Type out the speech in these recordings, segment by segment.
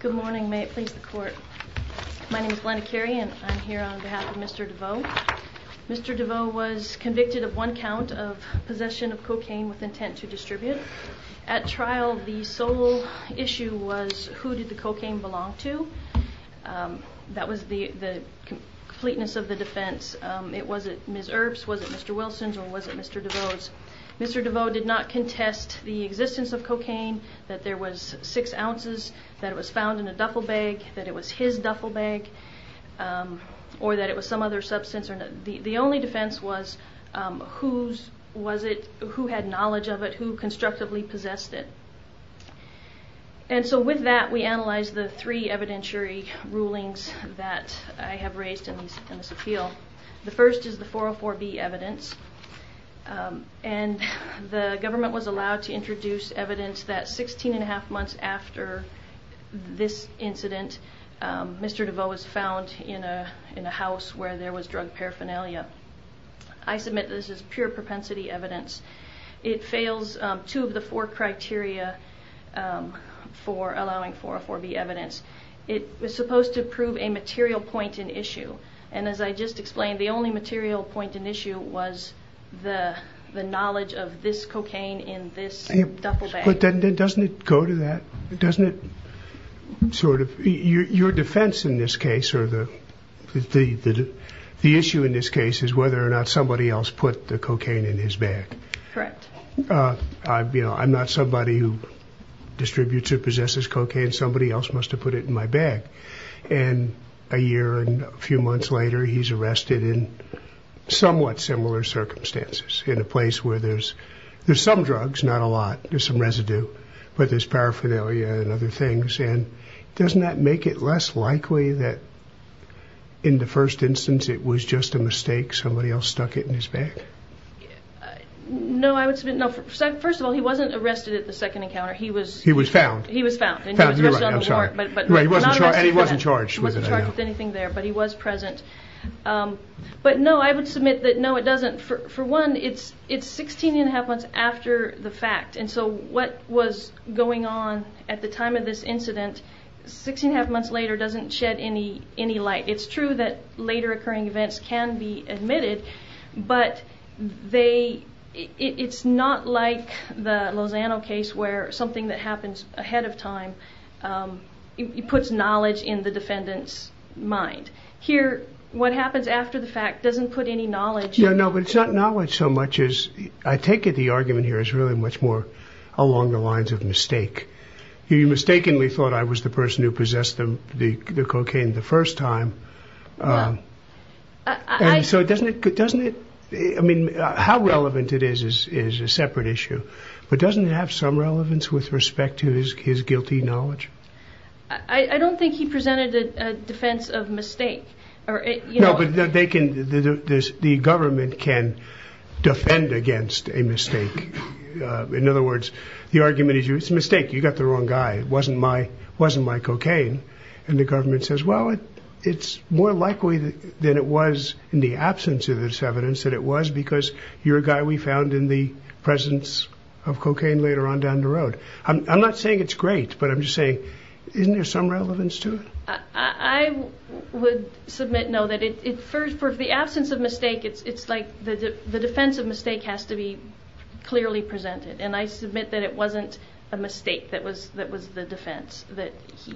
Good morning, may it please the court. My name is Glenna Carey and I'm here on behalf of Mr. Devoe. Mr. Devoe was convicted of one count of possession of cocaine with intent to distribute. At trial, the sole issue was who did the cocaine belong to. That was the completeness of the defense. It was it Ms. Erb's, was it Mr. Wilson's, or was it Mr. Devoe's. Mr. Devoe did not contest the existence of cocaine, that there was six ounces, that it was found in a duffel bag, that it was his duffel bag, or that it was some other substance. The only defense was who had knowledge of it, who constructively possessed it. And so with that we analyzed the three evidentiary rulings that I have raised in this appeal. The first is the 404B evidence and the government was allowed to evidence that 16 and a half months after this incident, Mr. Devoe was found in a in a house where there was drug paraphernalia. I submit this is pure propensity evidence. It fails two of the four criteria for allowing 404B evidence. It was supposed to prove a material point in issue, and as I just explained the only material point in issue was the the knowledge of this cocaine in this duffel bag. But then doesn't it go to that, doesn't it sort of, your defense in this case or the the issue in this case is whether or not somebody else put the cocaine in his bag. Correct. You know I'm not somebody who distributes or possesses cocaine, somebody else must have put it in my bag. And a year and a few months later he's arrested in somewhat similar circumstances, in a place where there's there's some drugs, not a lot, there's some residue, but there's paraphernalia and other things. And doesn't that make it less likely that in the first instance it was just a mistake somebody else stuck it in his bag? No, I would submit, no, first of all he wasn't arrested at the second encounter. He was he was found. He was found. And he wasn't charged with it. He wasn't charged with anything there, but he was present. But no I would submit that no it doesn't, for one, it's it's 16 and a half months after the fact. And so what was going on at the time of this incident, 16 and a half months later, doesn't shed any any light. It's true that later occurring events can be admitted, but they it's not like the Lozano case where something that happens ahead of time, it puts knowledge in the defendant's mind. Here what happens after the knowledge. Yeah, no, but it's not knowledge so much as I take it the argument here is really much more along the lines of mistake. He mistakenly thought I was the person who possessed them the cocaine the first time. So doesn't it, doesn't it, I mean, how relevant it is is a separate issue. But doesn't it have some relevance with respect to his guilty knowledge? I don't think he presented a defense of mistake. No, but they can, the government can defend against a mistake. In other words, the argument is you, it's a mistake, you got the wrong guy. It wasn't my, wasn't my cocaine. And the government says, well, it's more likely than it was in the absence of this evidence that it was because you're a guy we found in the presence of cocaine later on down the road. I'm would submit, no, that it, for the absence of mistake, it's like the defense of mistake has to be clearly presented. And I submit that it wasn't a mistake that was, that was the defense, that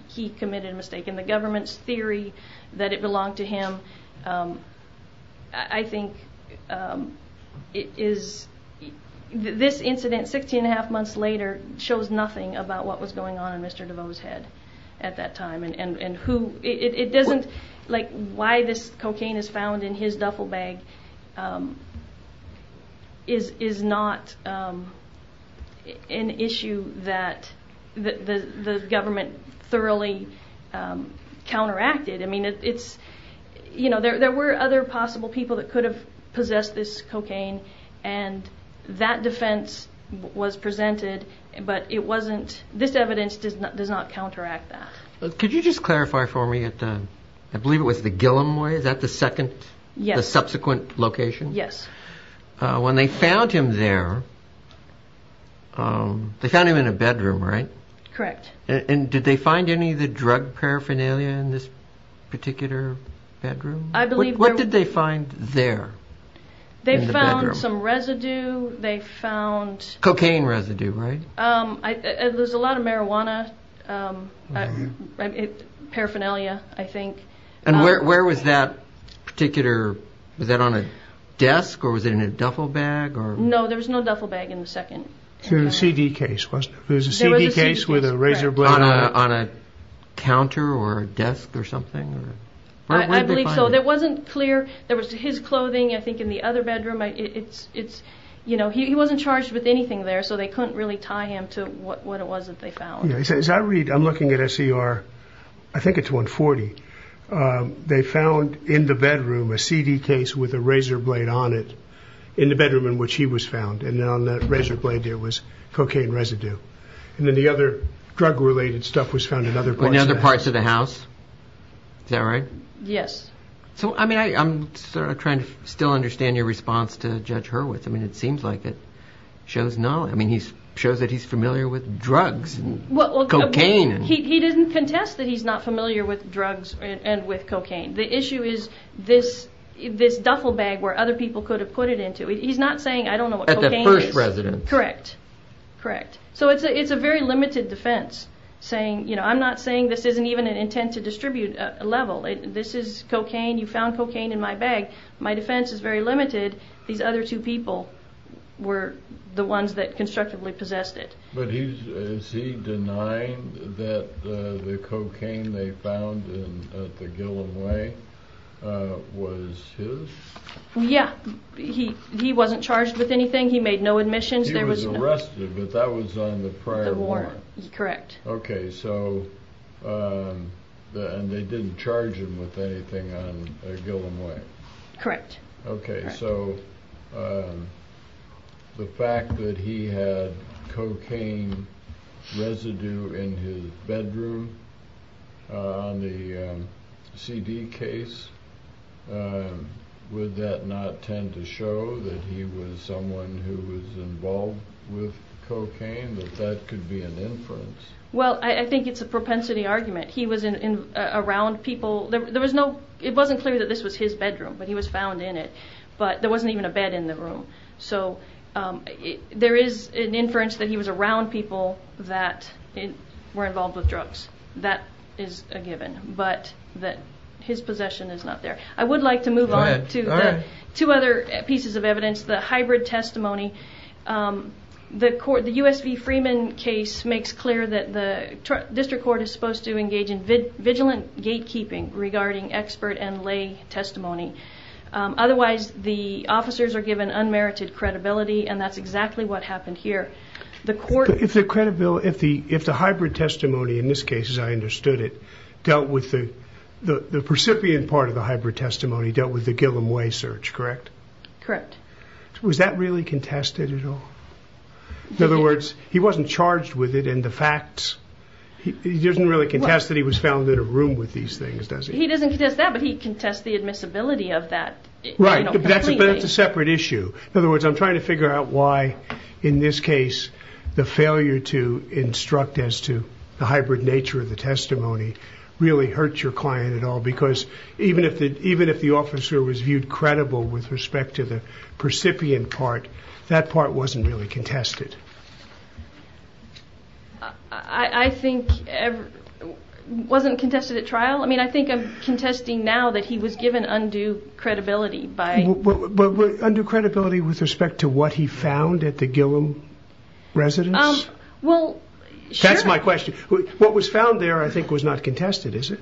he committed a mistake in the government's theory that it belonged to him. I think it is, this incident 16 and a half months later shows nothing about what was going on in Mr. DeVos head at that time and who, it doesn't, like why this cocaine is found in his duffel bag is not an issue that the government thoroughly counteracted. I mean, it's, you know, there were other possible people that could have possessed this cocaine and that defense was presented, but it wasn't, this evidence does not, does not counteract that. Could you just clarify for me at the, I believe it was the Gillomway, is that the second, the subsequent location? Yes. When they found him there, they found him in a bedroom, right? Correct. And did they find any of the drug paraphernalia in this particular bedroom? I believe. What did they find there? They found some residue. They found cocaine residue, right? There's a lot of marijuana, paraphernalia, I think. And where, where was that particular, was that on a desk or was it in a duffel bag? No, there was no duffel bag in the second. It was a CD case, wasn't it? It was a CD case with a razor blade on it. On a counter or a desk or something? I believe so. It wasn't clear. There was his clothing, I think, in the other bedroom. It's, it's, you know, he wasn't charged with anything there, so they couldn't really tie him to what, what it was that they found. As I read, I'm looking at SCR, I think it's 140. They found in the bedroom, a CD case with a razor blade on it in the bedroom in which he was found. And then on that razor blade there was cocaine residue. And then the other drug related stuff was found in other parts of the house. Is that right? Yes. I mean, I'm trying to still understand your response to Judge Hurwitz. I mean, it seems like it shows knowledge. I mean, he shows that he's familiar with drugs and cocaine. Well, he didn't contest that he's not familiar with drugs and with cocaine. The issue is this, this duffel bag where other people could have put it into. He's not saying, I don't know what cocaine is. At the first residence? Correct. Correct. So it's a, it's a very limited defense saying, I'm not saying this isn't even an intent to distribute a level. This is cocaine. You found cocaine in my bag. My defense is very limited. These other two people were the ones that constructively possessed it. But he's, is he denying that the cocaine they found at the Gillom Way was his? Yeah. He, he wasn't charged with anything. He made no admissions. He was and they didn't charge him with anything on Gillom Way. Correct. Okay. So the fact that he had cocaine residue in his bedroom on the CD case, would that not tend to show that he was someone who was involved with cocaine, that that could be an inference? Well, I think it's a propensity argument. He was in, around people. There was no, it wasn't clear that this was his bedroom, but he was found in it, but there wasn't even a bed in the room. So there is an inference that he was around people that were involved with drugs. That is a given, but that his possession is not there. I would like to move on to two other pieces of evidence, the hybrid testimony. The court, the USV Freeman case makes clear that the district court is supposed to engage in vigilant gatekeeping regarding expert and lay testimony. Otherwise the officers are given unmerited credibility and that's exactly what happened here. The court... If the credibility, if the, if the hybrid testimony in this case, as I understood it, dealt with the, the, the recipient part of the hybrid testimony dealt with the Gillom Way search, correct? Correct. Was that really contested at all? In other words, he wasn't charged with it and the facts, he doesn't really contest that he was found in a room with these things, does he? He doesn't contest that, but he contests the admissibility of that. Right, but that's a separate issue. In this case, the failure to instruct as to the hybrid nature of the testimony really hurt your client at all because even if the, even if the officer was viewed credible with respect to the recipient part, that part wasn't really contested. I think it wasn't contested at trial. I mean, I think I'm contesting now that he was given undue credibility by... Undue credibility with respect to what he found at the Gillom residence? Well, sure. That's my question. What was found there, I think, was not contested, is it?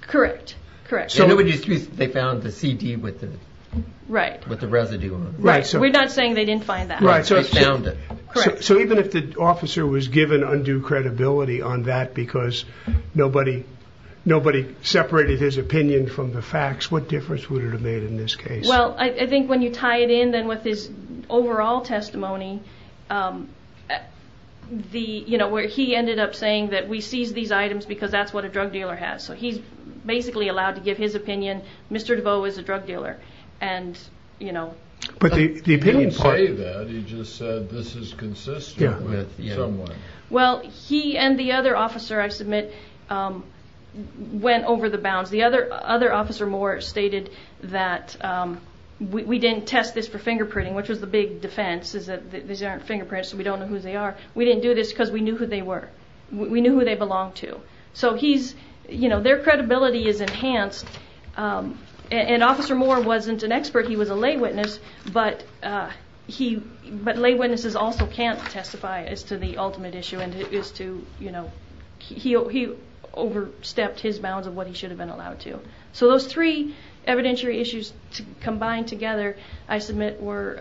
Correct. Correct. They found the CD with the... Right. With the residue on it. Right. We're not saying they didn't find that. Right. They found it. Correct. So even if the officer was given undue credibility on that because nobody, nobody separated his opinion from the facts, what difference would it have made in this case? Well, I think when you tie it in then with his overall testimony, the, you know, where he ended up saying that we seized these items because that's what a drug dealer has. So he's basically allowed to give his opinion. Mr. DeVoe is a drug dealer. And, you know... But the opinion part... He didn't say that, he just said this is consistent with someone. Well, he and the other officer, I submit, went over the bounds. The other officer Moore stated that we didn't test this for fingerprinting, which was the big defense, is that these aren't fingerprints, so we don't know who they are. We didn't do this because we knew who they were. We knew who they belonged to. So he's, you know, their credibility is enhanced. And Officer Moore wasn't an expert. He was a lay witness. But he, but lay witnesses also can't testify as to the ultimate issue and it is to, you know, he overstepped his bounds of what he should have been allowed to. So those three evidentiary issues combined together, I submit, were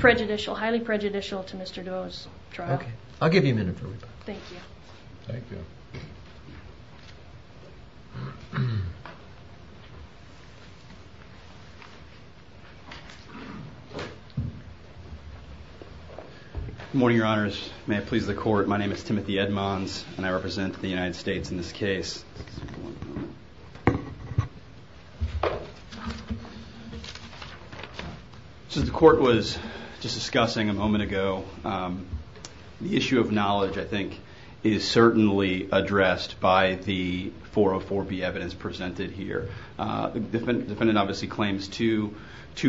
prejudicial, highly prejudicial to Mr. DeVoe's trial. Okay. I'll give you a minute. Thank you. Thank you. Good morning, Your Honors. May it be so. My name is Timothy Edmonds and I represent the United States in this case. Since the court was just discussing a moment ago, the issue of knowledge, I think, is certainly addressed by the 404B evidence presented here. The defendant obviously claims two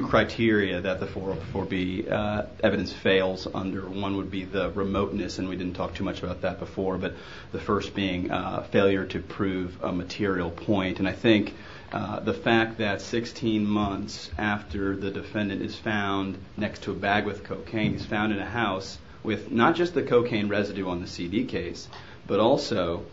criteria that the 404B evidence fails under. One would be the remoteness, and we didn't talk too much about that before, but the first being failure to prove a material point. And I think the fact that 16 months after the defendant is found next to a bag with cocaine, he's found in a house with not just the cocaine residue on the CD case, but also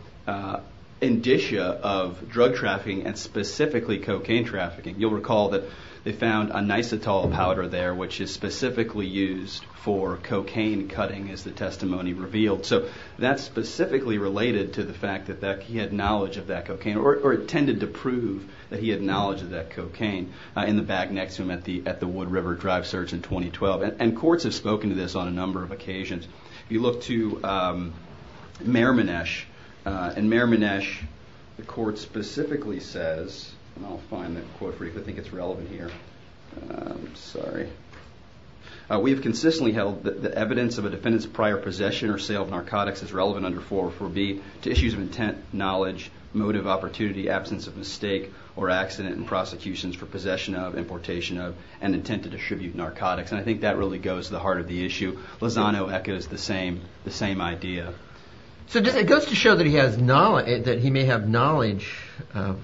indicia of drug trafficking and specifically cocaine trafficking. You'll recall that they found a nisetol powder there, which is specifically used for cocaine cutting, as the testimony revealed. So that's specifically related to the fact that he had knowledge of that cocaine, or intended to prove that he had knowledge of that cocaine, in the bag next to him at the Wood River Drive search in 2012. And courts have spoken to this on a number of occasions. You look to Merminesh, and Merminesh, the court specifically says, and I'll find that quote for you, I think it's relevant here. Sorry. We have consistently held that the evidence of a defendant's prior possession or sale of narcotics is relevant under 404B to issues of intent, knowledge, motive, opportunity, absence of mistake, or accident in prosecutions for possession of, importation of, and intent to distribute narcotics. And I think that really goes to the heart of the issue. Lozano echoes the same idea. So it goes to show that he may have knowledge of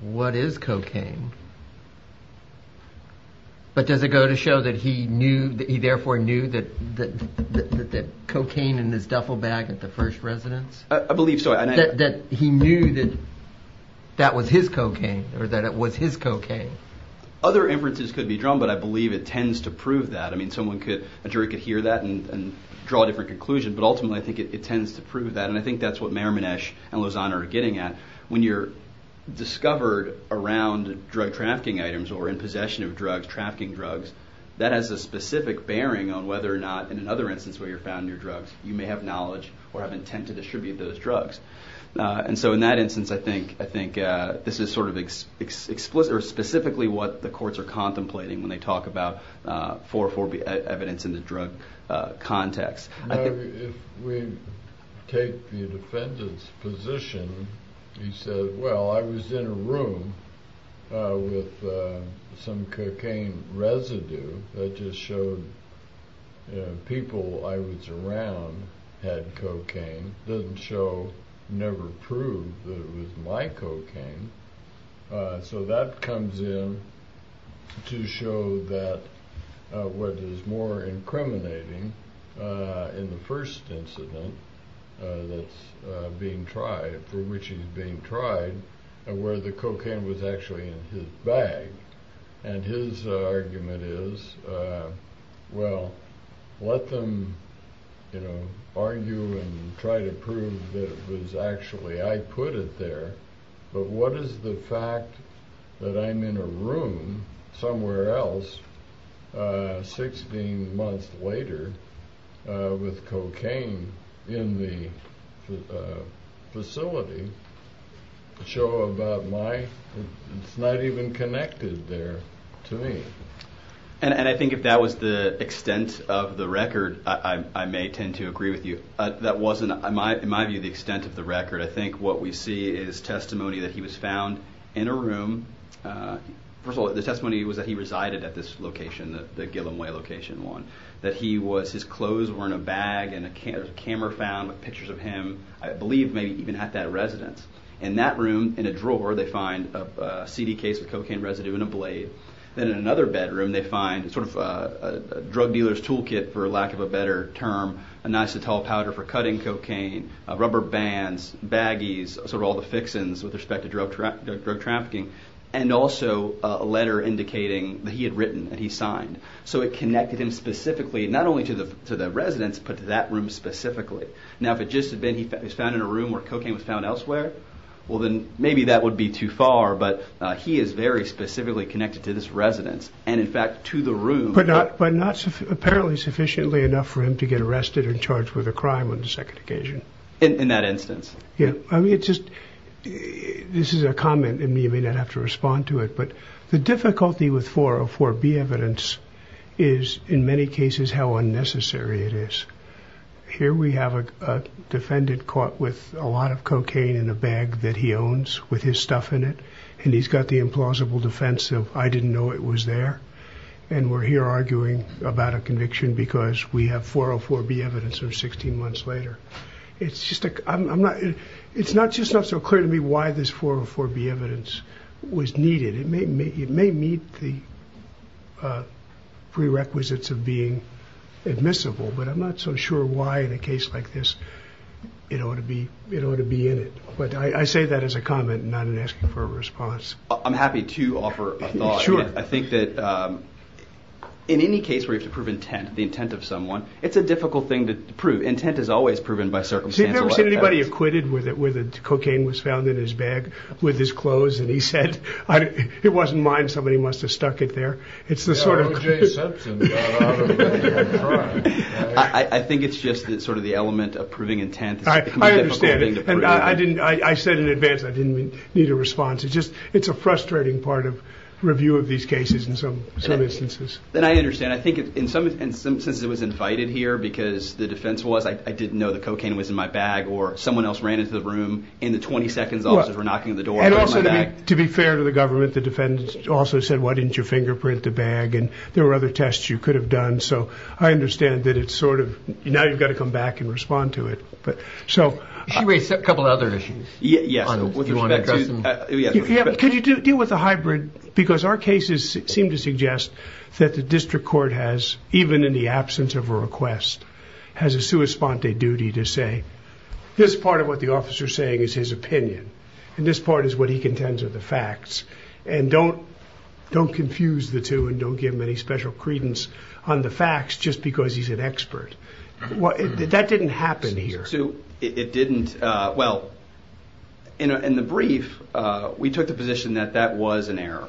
what is cocaine, but does it go to show that he knew, that he therefore knew, that cocaine in his duffel bag at the first residence? I believe so. That he knew that that was his cocaine, or that it was his cocaine. Other inferences could be drawn, but I believe it tends to prove that. I mean someone could, a jury could hear that and draw a different conclusion, but ultimately I think it tends to prove that. And I think that's what Merminesh and Lozano are getting at. When you're discovered around drug trafficking items or in possession of drugs, trafficking drugs, that has a specific bearing on whether or not, in another instance where you're found near drugs, you may have knowledge or have intent to distribute those drugs. And so in that instance I think, I think this is sort of explicit, or specifically what the courts are contemplating when they talk for evidence in the drug context. If we take the defendant's position, he said, well I was in a room with some cocaine residue that just showed people I was around had cocaine. Doesn't show, never prove that it was my cocaine. So that comes in to show that what is more incriminating in the first incident that's being tried, for which he's being tried, where the cocaine was actually in I put it there, but what is the fact that I'm in a room somewhere else 16 months later with cocaine in the facility to show about my, it's not even connected there to me. And I think if that was the extent of the record, I may tend to agree with you. That wasn't, in my view, the extent of the record. I think what we see is testimony that he was found in a room. First of all, the testimony was that he resided at this location, the Gillom Way location one, that he was, his clothes were in a bag and a camera found with pictures of him, I believe maybe even at that residence. In that room, in a drawer, they find a CD case with cocaine residue and a blade. Then in another bedroom, they find sort of a drug dealer's toolkit, for lack of a better term, a nice tall powder for cutting cocaine, rubber bands, baggies, sort of all the fixings with respect to drug trafficking, and also a letter indicating that he had written and he signed. So it connected him specifically, not only to the residence, but to that room specifically. Now, if it just had been he was found in a room where cocaine was found elsewhere, well then maybe that would be too far, but he is very specifically connected to this residence and in fact to the room. But not apparently sufficiently enough for him to get arrested and charged with a crime on the second occasion. In that instance? Yeah, I mean it's just, this is a comment and you may not have to respond to it, but the difficulty with 404B evidence is in many cases how unnecessary it is. Here we have a defendant caught with a lot of I didn't know it was there, and we're here arguing about a conviction because we have 404B evidence or 16 months later. It's just, I'm not, it's not just not so clear to me why this 404B evidence was needed. It may meet the prerequisites of being admissible, but I'm not so sure why in a case like this it ought to be in it. But I say that as a comment not in asking for a response. I'm happy to offer a thought. Sure. I think that in any case where you have to prove intent, the intent of someone, it's a difficult thing to prove. Intent is always proven by circumstances. Have you ever seen anybody acquitted where the cocaine was found in his bag with his clothes and he said, it wasn't mine, somebody must have stuck it there. It's the sort of I think it's just that sort of the element of proving intent. I understand and I didn't, I said in advance I didn't need a response. It's just, it's a frustrating part of review of these cases in some instances. And I understand. I think in some instances it was invited here because the defense was, I didn't know the cocaine was in my bag or someone else ran into the room in the 20 seconds officers were knocking on the door. And also to be fair to the government, the defense also said, why didn't you fingerprint the bag? And there were other tests you could have done. So I understand that it's sort of, now you've got to come back and respond to it. She raised a couple of other issues. Could you deal with the hybrid? Because our cases seem to suggest that the district court has, even in the absence of a request, has a sua sponte duty to say, this part of what the officer's saying is his opinion. And this part is what he contends are the facts. And don't confuse the two and don't give him any special credence on the facts just because he's an expert. That didn't happen here. Well, in the brief, we took the position that that was an error.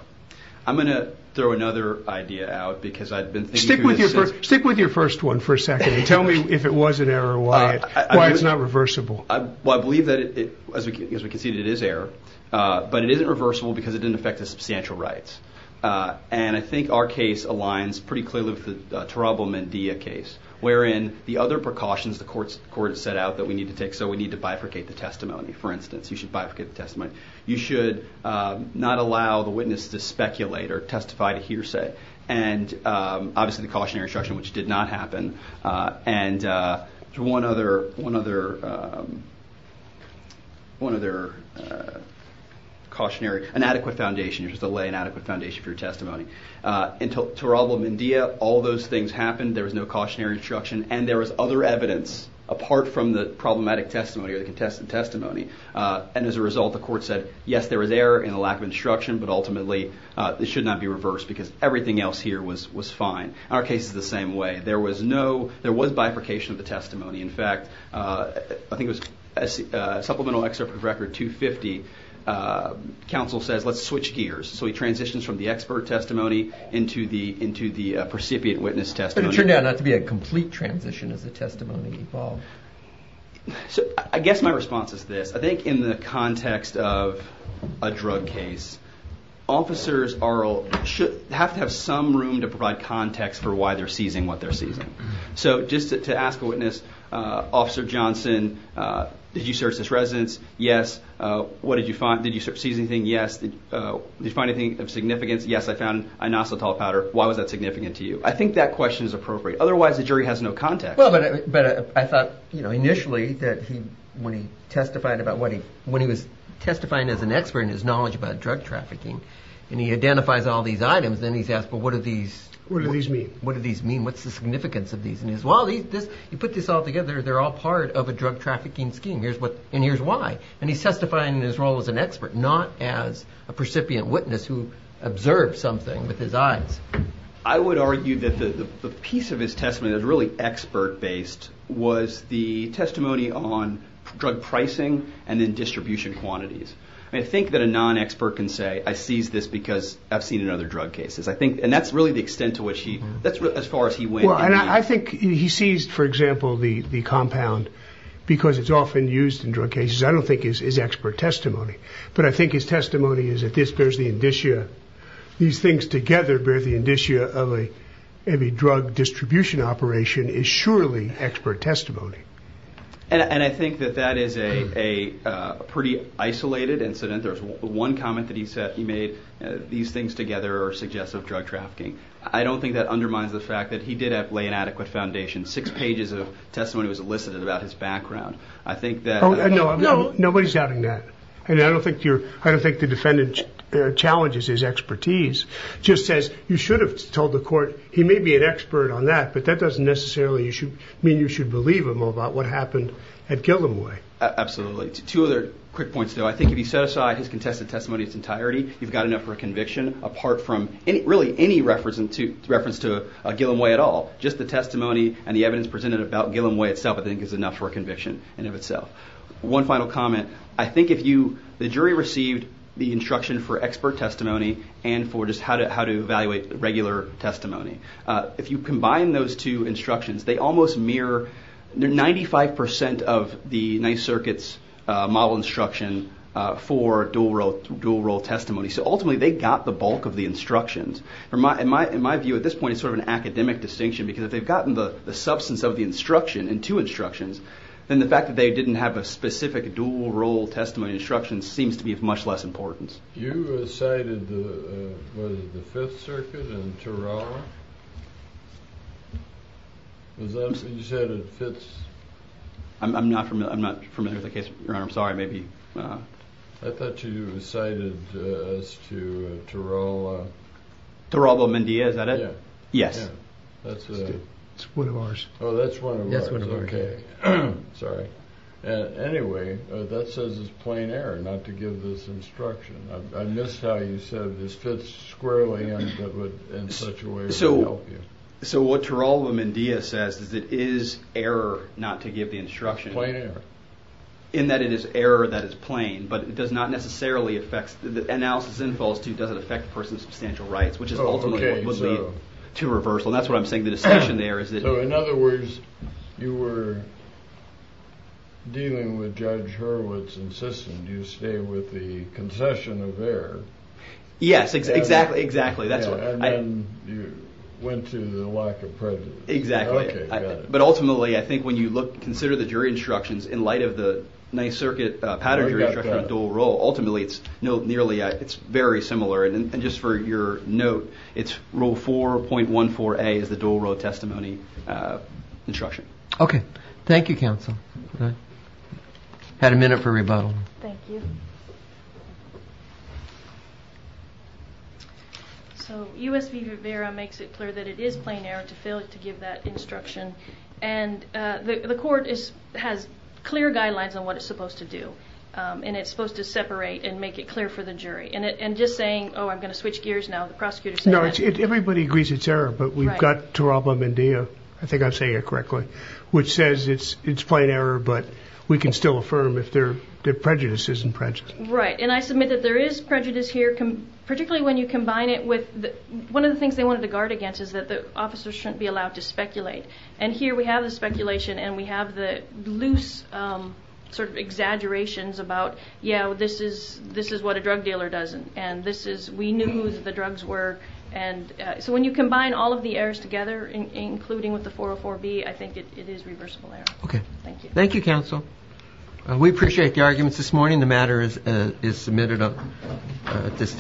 I'm going to throw another idea out because I'd been thinking. Stick with your first one for a second and tell me if it was an error or why it's not reversible. Well, I believe that as we conceded it is error, but it isn't reversible because it didn't affect the substantial rights. And I think our case aligns pretty clearly with the Tarabo-Mendia case, wherein the other precautions the court set out that we need to take. So we need to bifurcate the testimony, for instance. You should bifurcate the testimony. You should not allow the witness to speculate or testify to hearsay. And obviously the cautionary instruction, which did not happen. And one other cautionary, an adequate foundation, you're supposed to lay an adequate foundation for your testimony. Tarabo-Mendia, all those things happened. There was no cautionary instruction and there was other evidence apart from the problematic testimony or the contested testimony. And as a result, the court said, yes, there was error in the lack of instruction, but ultimately it should not be reversed because everything else here was fine. Our case is the same way. There was bifurcation of the testimony. In fact, I think it was Supplemental Excerpt from Record 250. Counsel says, let's switch gears. So he transitions from the expert testimony into the into the precipiate witness testimony. But it turned out not to be a complete transition as the testimony evolved. So I guess my response is this. I think in the context of a drug case, officers have to have some room to provide context for why they're seizing what they're seizing. So just to ask a witness, Officer Johnson, did you search this residence? Yes. What did you find? Did you see anything? Yes. Did you find anything of significance? Yes, I found inositol powder. Why was that significant to you? I think that question is appropriate. Otherwise, the jury has no context. Well, but I thought, you know, initially that he, when he testified about what he, when he was testifying as an expert in his knowledge about drug trafficking and he identifies all these items, then he's asked, well, what are these? What do these mean? What's the significance of these? And he says, well, these, this, you put this all together, they're all part of a drug trafficking scheme. Here's what, and here's why. And he's testifying in his role as an expert, not as a precipiate witness who observed something with his eyes. I would argue that the piece of his testimony that was really expert based was the testimony on drug pricing and then distribution quantities. I think that a non-expert can say, I seized this because I've seen another drug cases. I think, and that's really the extent to which he, that's as far as he went. And I think he sees, for example, the, the compound because it's often used in drug cases. I don't think is, is expert testimony, but I think his testimony is that this bears the indicia, these things together, bear the indicia of a heavy drug distribution operation is surely expert testimony. And I think that that is a, a pretty isolated incident. There's one comment that he said, he made these things together or suggest of drug trafficking. I don't think that undermines the fact that he did have lay inadequate foundation. Six pages of testimony was elicited about his background. I think that- Oh, no, no, nobody's doubting that. And I don't think you're, I don't think the defendant challenges his expertise, just says you should have told the court. He may be an expert on that, but that doesn't necessarily, you should mean you should believe him about what happened at Gillomway. Absolutely. Two other quick points though. I think if you set aside his contested entirety, you've got enough for a conviction apart from any, really any reference to reference to Gillomway at all, just the testimony and the evidence presented about Gillomway itself, I think is enough for a conviction in of itself. One final comment. I think if you, the jury received the instruction for expert testimony and for just how to, how to evaluate regular testimony. If you combine those two instructions, they almost mirror 95% of the Ninth Circuit's model instruction for dual role testimony. So ultimately they got the bulk of the instructions. In my view at this point, it's sort of an academic distinction because if they've gotten the substance of the instruction in two instructions, then the fact that they didn't have a specific dual role testimony instruction seems to be of much less importance. You cited the, what is it, the Fifth Circuit and Tarawa? Was that, you said it fits? I'm not familiar, I'm not familiar with the case, Your Honor. I'm sorry. Maybe. I thought you cited as to Tarawa. Tarawa-Mendia, is that it? Yeah. Yes. That's one of ours. Oh, that's one of ours. Okay. Sorry. Anyway, that says it's plain error not to give this instruction. I missed how you said this fits squarely in such a way as to help you. So what Tarawa-Mendia says is it is error not to give the instruction. It's plain error. In that it is error that is plain, but it does not necessarily affect, the analysis in false truth doesn't affect a person's substantial rights, which is ultimately what would lead to reversal. And that's what I'm saying, the distinction there is that. So in other words, you were dealing with Judge Hurwitz insisting you stay with the concession of error. Yes, exactly, exactly. And then you went to the lack of prejudice. Exactly. Okay, got it. But ultimately, I think when you look, consider the jury instructions in light of the Ninth Circuit Pattern Jury Instruction on dual role, ultimately it's no, nearly, it's very similar. And just for your note, it's rule 4.14a is the dual role testimony instruction. Okay. Thank you, counsel. Had a minute for rebuttal. Thank you. So U.S. v. Rivera makes it clear that it is plain error to fail to give that instruction. And the court has clear guidelines on what it's supposed to do. And it's supposed to separate and make it clear for the jury. And just saying, oh, I'm going to switch gears now. The prosecutor said that. No, everybody agrees it's error, but we've got Taralba Mendia, I think I'm saying it correctly, which says it's plain error, but we can still affirm if their prejudice isn't prejudice. Right. And I submit that there is prejudice here, particularly when you combine it with, one of the things they wanted to guard against is that the officers shouldn't be allowed to speculate. And here we have the speculation and we have the loose sort of exaggerations about, yeah, this is what a drug dealer does. And this is, we knew who the drugs were. And so when you combine all of the errors together, including with the 404b, I think it is reversible error. Okay. Thank you. Thank you, counsel. We appreciate the arguments this morning. The matter is submitted at this time.